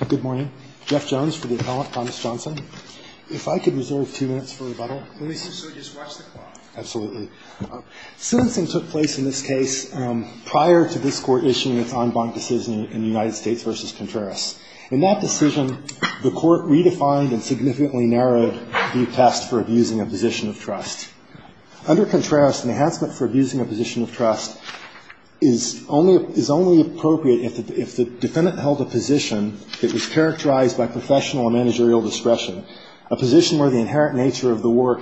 If I could reserve two minutes for rebuttal. Absolutely. Sentencing took place in this case prior to this Court issuing its en banc decision in United States v. Contreras. In that decision, the Court redefined and significantly narrowed the test for abusing a position of trust. Under Contreras, an enhancement for abusing a position of trust is only appropriate if the defendant held a position that was characterized by professional and managerial discretion, a position where the inherent nature of the work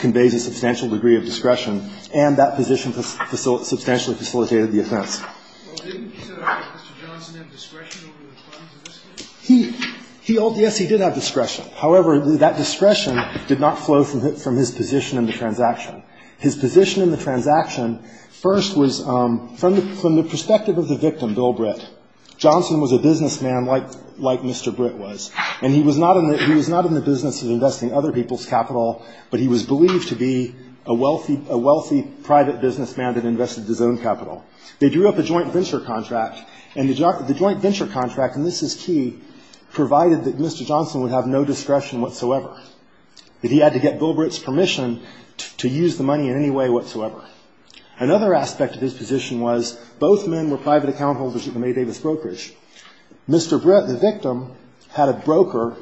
conveys a substantial degree of discretion, and that position substantially facilitated the offense. Well, didn't Mr. Johnson have discretion over the terms of this case? Yes, he did have discretion. However, that discretion did not flow from his position in the transaction. His position in the transaction first was, from the perspective of the victim, Bill Britt, Johnson was a businessman like Mr. Britt was, and he was not in the business of investing other people's capital, but he was believed to be a wealthy private businessman that invested his own capital. They drew up a joint venture contract, and the joint venture contract, and this is key, provided that Mr. Johnson would have no discretion whatsoever. He had to get Bill Britt's permission to use the money in any way whatsoever. Another aspect of his position was both men were private account holders at the May Davis Brokerage. Mr. Britt, the victim, had a broker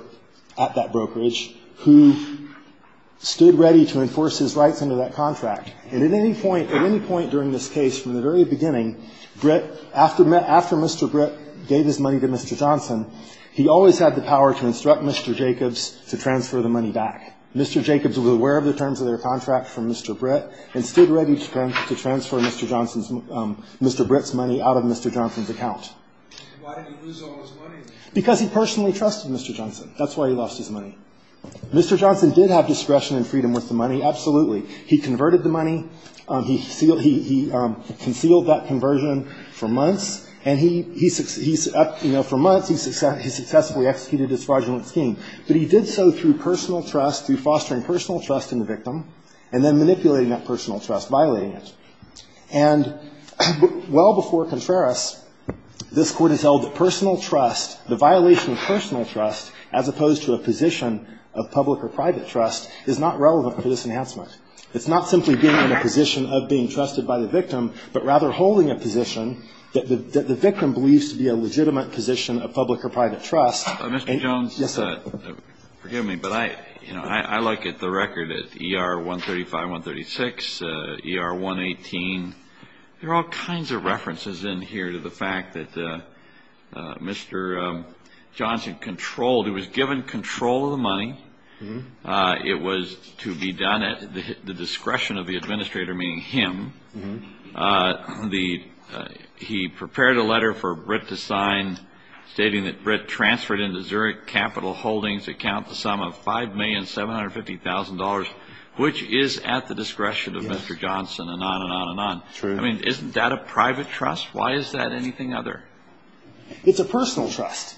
at that brokerage who stood ready to enforce his rights under that contract. And at any point, at any point during this case, from the very beginning, Britt, after Mr. Britt gave his money to Mr. Johnson, he always had the power to instruct Mr. Jacobs to transfer the money back. Mr. Jacobs was aware of the terms of their contract from Mr. Britt and stood ready to transfer Mr. Johnson's Mr. Britt's money out of Mr. Johnson's account. Why did he lose all his money? Because he personally trusted Mr. Johnson. That's why he lost his money. Mr. Johnson did have discretion and freedom with the money. Absolutely. He converted the money. He concealed that conversion for months. And he up, you know, for months, he successfully executed his fraudulent scheme. But he did so through personal trust, through fostering personal trust in the victim, and then manipulating that personal trust, violating it. And well before Contreras, this Court has held that personal trust, the violation of personal trust, as opposed to a position of public or private trust, is not relevant for this enhancement. It's not simply being in a position of being trusted by the victim, but rather holding a position that the victim believes to be a legitimate position of public or private trust. Mr. Jones. Yes, sir. Forgive me, but I, you know, I look at the record at ER 135, 136, ER 118. There are all kinds of references in here to the fact that Mr. Johnson controlled. He was given control of the money. It was to be done at the discretion of the administrator, meaning him. He prepared a letter for Britt to sign stating that Britt transferred into Zurich Capital Holdings account the sum of $5,750,000, which is at the discretion of Mr. Johnson, and on and on and on. I mean, isn't that a private trust? Why is that anything other? It's a personal trust.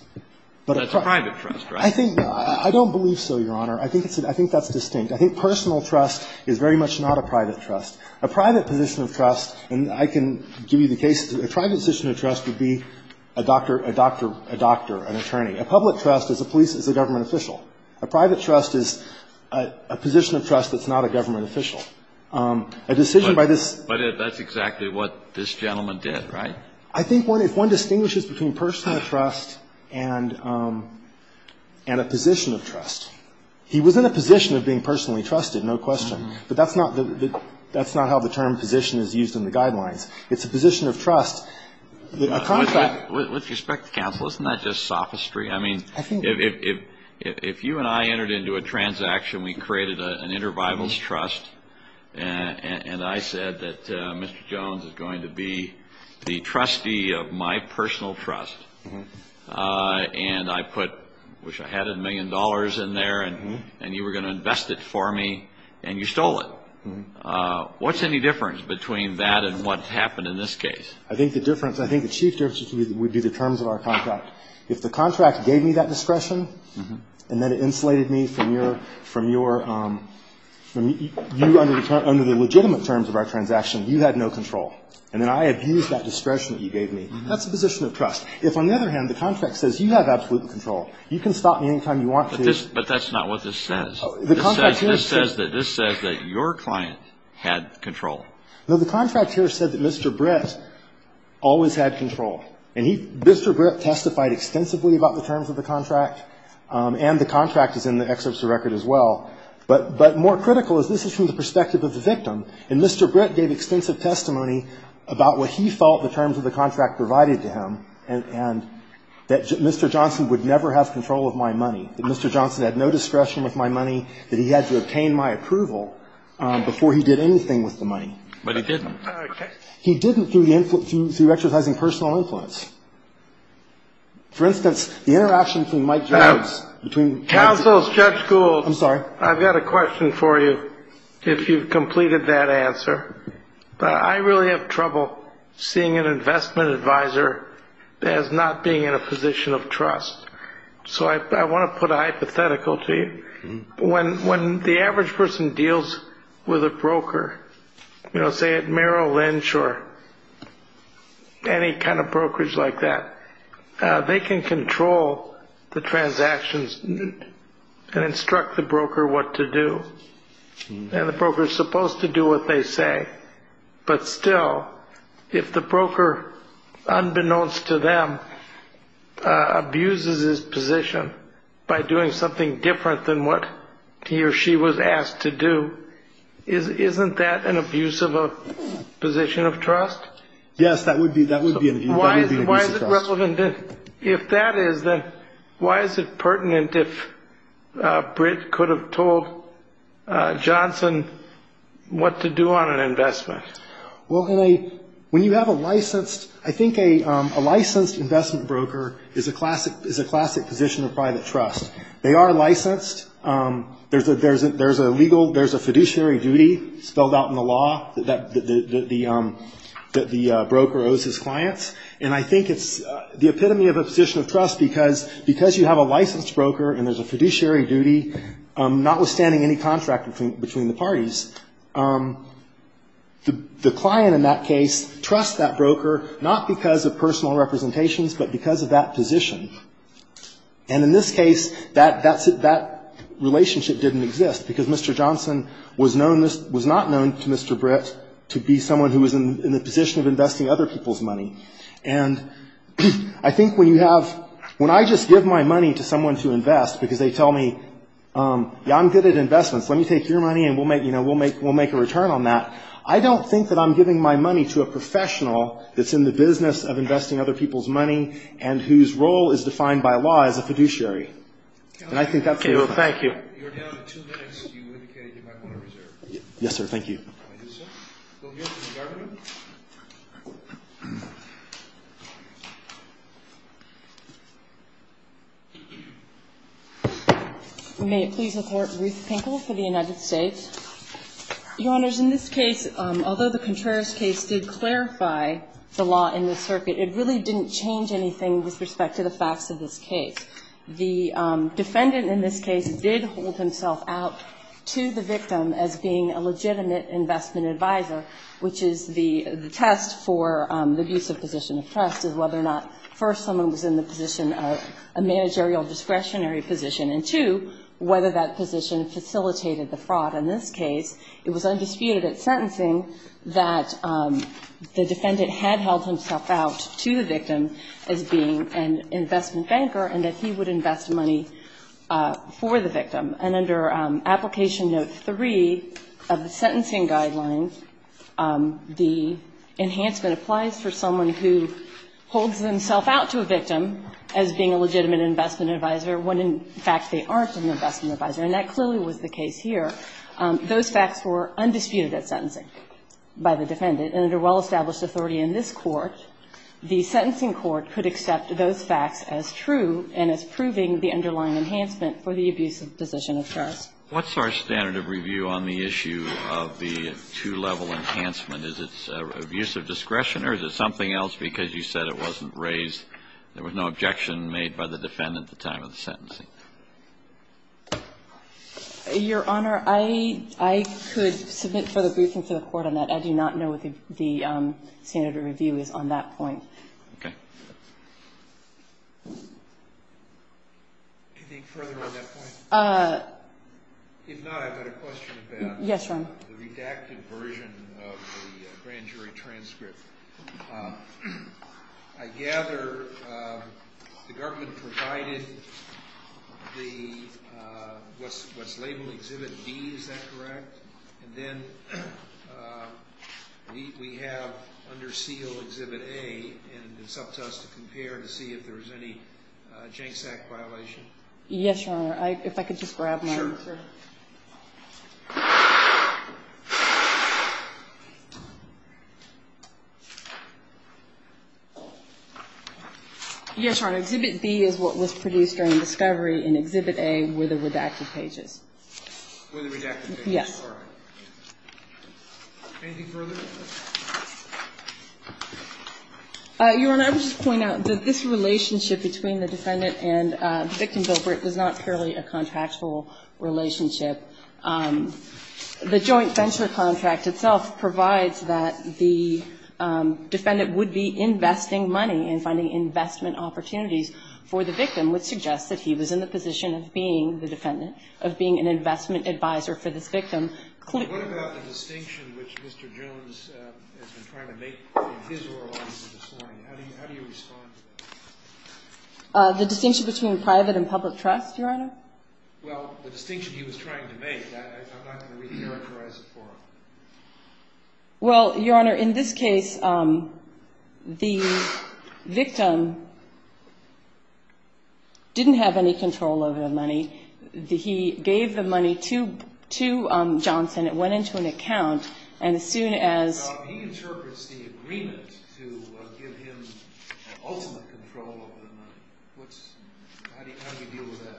But it's a private trust, right? I think no. I don't believe so, Your Honor. I think that's distinct. I think personal trust is very much not a private trust. A private position of trust, and I can give you the case. A private position of trust would be a doctor, a doctor, a doctor, an attorney. A public trust is a police, is a government official. A private trust is a position of trust that's not a government official. A decision by this. But that's exactly what this gentleman did, right? I think if one distinguishes between personal trust and a position of trust. He was in a position of being personally trusted, no question. But that's not how the term position is used in the guidelines. It's a position of trust. With respect to counsel, isn't that just sophistry? I mean, if you and I entered into a transaction, we created an intervivals trust, and I said that Mr. Jones is going to be the trustee of my personal trust, and I put, I wish I had a million dollars in there, and you were going to invest it for me, and you stole it. What's any difference between that and what's happened in this case? I think the difference, I think the chief difference would be the terms of our contract. If the contract gave me that discretion, and then it insulated me from your, from your, you under the legitimate terms of our transaction, you had no control. And then I abused that discretion that you gave me. That's a position of trust. If, on the other hand, the contract says you have absolute control, you can stop me any time you want to. But that's not what this says. This says that your client had control. No, the contract here said that Mr. Brett always had control. And he, Mr. Brett testified extensively about the terms of the contract, and the contract is in the excerpts of the record as well. But, but more critical is this is from the perspective of the victim. And Mr. Brett gave extensive testimony about what he felt the terms of the contract provided to him, and that Mr. Johnson would never have control of my money, that Mr. Johnson had no discretion with my money, that he had to obtain my approval before he did anything with the money. But he didn't. He didn't through exercising personal influence. For instance, the interaction between Mike Jones, between. Counsel, Judge Gould. I'm sorry. I've got a question for you, if you've completed that answer. I really have trouble seeing an investment advisor as not being in a position of trust. So I want to put a hypothetical to you. When when the average person deals with a broker, you know, say at Merrill Lynch or any kind of brokers like that, they can control the transactions and instruct the broker what to do. And the broker is supposed to do what they say. But still, if the broker, unbeknownst to them, abuses his position by doing something different than what he or she was asked to do, isn't that an abuse of a position of trust? Yes, that would be that would be. If that is that, why is it pertinent if Britt could have told Johnson what to do on an investment? Well, when you have a licensed I think a licensed investment broker is a classic is a classic position of private trust. They are licensed. There's a there's a there's a legal there's a fiduciary duty spelled out in the law that the that the broker owes his clients. And I think it's the epitome of a position of trust because because you have a licensed broker and there's a fiduciary duty, notwithstanding any contract between between the parties, the client in that case trusts that broker, not because of personal representations, but because of that position. And in this case, that that's that relationship didn't exist because Mr. Johnson was known this was not known to Mr. Britt to be someone who was in the position of investing other people's money. And I think when you have when I just give my money to someone to invest because they tell me I'm good at investments, let me take your money and we'll make you know, we'll make we'll make a return on that. I don't think that I'm giving my money to a professional that's in the business of investing other people's money and whose role is defined by law as a fiduciary. And I think that's it. Thank you. Yes, sir. Thank you. Thank you, sir. We'll hear from the government. May it please the Court. Ruth Pinkle for the United States. Your Honors, in this case, although the Contreras case did clarify the law in the circuit, it really didn't change anything with respect to the facts of this case. The defendant in this case did hold himself out to the victim as being a legitimate investment advisor, which is the test for the abusive position of trust is whether or not, first, someone was in the position of a managerial discretionary position, and, two, whether that position facilitated the fraud. In this case, it was undisputed at sentencing that the defendant had held himself out to the victim as being an investment banker and that he would invest money for the victim. And under Application Note 3 of the sentencing guidelines, the enhancement applies for someone who holds themselves out to a victim as being a legitimate investment advisor when, in fact, they aren't an investment advisor. And that clearly was the case here. Those facts were undisputed at sentencing by the defendant. And under well-established authority in this Court, the sentencing court could accept those facts as true and as proving the underlying enhancement for the abusive position of trust. Kennedy. What's our standard of review on the issue of the two-level enhancement? Is it abusive discretion or is it something else because you said it wasn't raised or there was no objection made by the defendant at the time of the sentencing? Your Honor, I could submit further briefing to the Court on that. I do not know what the standard of review is on that point. Okay. Anything further on that point? If not, I've got a question about the redacted version of the grand jury transcript. I gather the government provided the what's labeled Exhibit D, is that correct? And then we have under seal Exhibit A, and it's up to us to compare to see if there's any JANCSAC violation. Yes, Your Honor. If I could just grab mine. Sure. Yes, Your Honor. Exhibit B is what was produced during discovery, and Exhibit A were the redacted pages. Were the redacted pages. Yes. Anything further? Your Honor, I would just point out that this relationship between the defendant and the victim, Bill Britt, is not purely a contractual relationship. The joint venture contract itself provides that the defendant would be investing money and finding investment opportunities for the victim, which suggests that he was in the position of being the defendant, of being an investment advisor for this victim. What about the distinction which Mr. Jones has been trying to make in his oral argument this morning? How do you respond to that? The distinction between private and public trust, Your Honor? Well, the distinction he was trying to make, I'm not going to re-characterize it for him. Well, Your Honor, in this case, the victim didn't have any control over the money. He gave the money to Johnson. It went into an account. And as soon as he interprets the agreement to give him ultimate control over the money, how do you deal with that?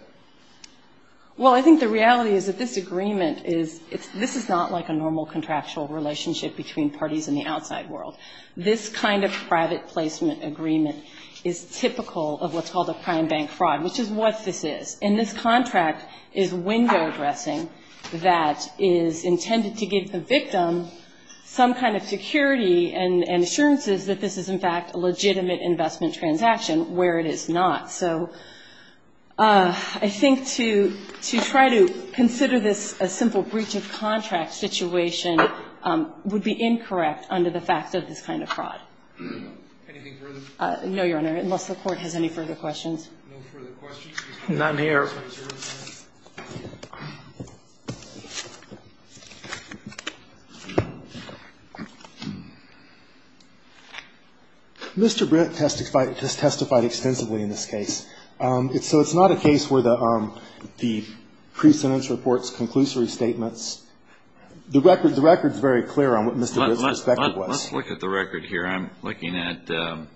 Well, I think the reality is that this agreement is, this is not like a normal contractual relationship between parties in the outside world. This kind of private placement agreement is typical of what's called a prime bank fraud, which is what this is. And this contract is window dressing that is intended to give the victim some kind of security and assurances that this is, in fact, a legitimate investment transaction, where it is not. So I think to try to consider this a simple breach of contract situation would be incorrect under the fact of this kind of fraud. Anything further? No, Your Honor, unless the Court has any further questions. No further questions. None here. Mr. Britt has testified extensively in this case. So it's not a case where the pre-sentence reports, conclusory statements, the record is very clear on what Mr. Britt's perspective was. Let's look at the record here. I'm looking at, I don't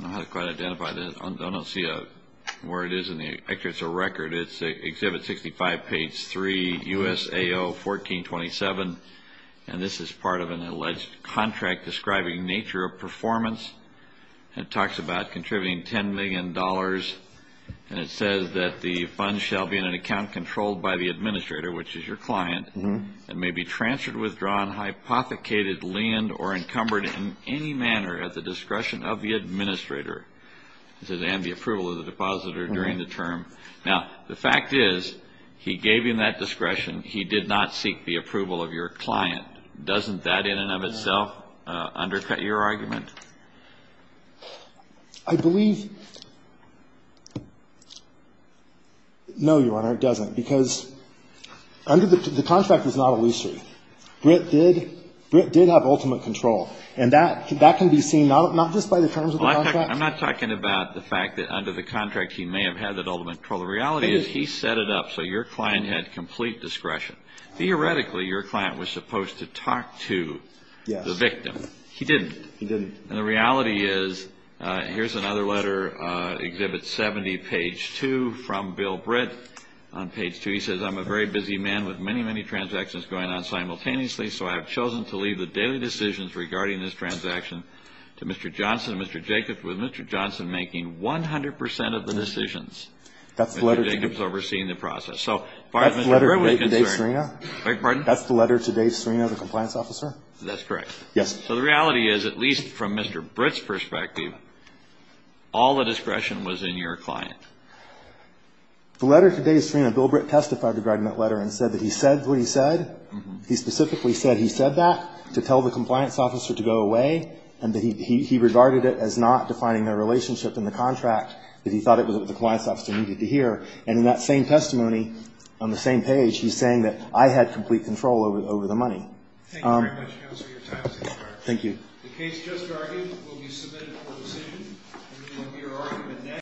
know how to quite identify this. I don't see where it is in the excerpt. It's a record. It's Exhibit 65, page 3, USAO 1427. And this is part of an alleged contract describing nature of performance. It talks about contributing $10 million. And it says that the fund shall be in an account controlled by the administrator, which is your client, and may be transferred, withdrawn, hypothecated, liened, or encumbered in any manner at the discretion of the administrator. It says, and the approval of the depositor during the term. Now, the fact is, he gave him that discretion. He did not seek the approval of your client. Doesn't that in and of itself undercut your argument? I believe no, Your Honor, it doesn't, because under the contract is not illusory. Britt did have ultimate control. I'm not talking about the fact that under the contract he may have had that ultimate control. The reality is he set it up so your client had complete discretion. Theoretically, your client was supposed to talk to the victim. He didn't. He didn't. And the reality is, here's another letter, Exhibit 70, page 2, from Bill Britt on page 2. He says, I'm a very busy man with many, many transactions going on simultaneously, so I have chosen to leave the daily decisions regarding this transaction to Mr. Johnson and Mr. Jacobs, with Mr. Johnson making 100 percent of the decisions and Mr. Jacobs overseeing the process. So as far as Mr. Britt was concerned. That's the letter to Dave Serena? Beg your pardon? That's the letter to Dave Serena, the compliance officer? That's correct. Yes. So the reality is, at least from Mr. Britt's perspective, all the discretion was in your client. The letter to Dave Serena, Bill Britt testified regarding that letter and said that he said what he said. He specifically said he said that to tell the compliance officer to go away and that he regarded it as not defining their relationship in the contract, that he thought it was what the compliance officer needed to hear. And in that same testimony, on the same page, he's saying that I had complete control over the money. Thank you very much, Counselor. Your time has expired. Thank you. The case just argued will be submitted for decision.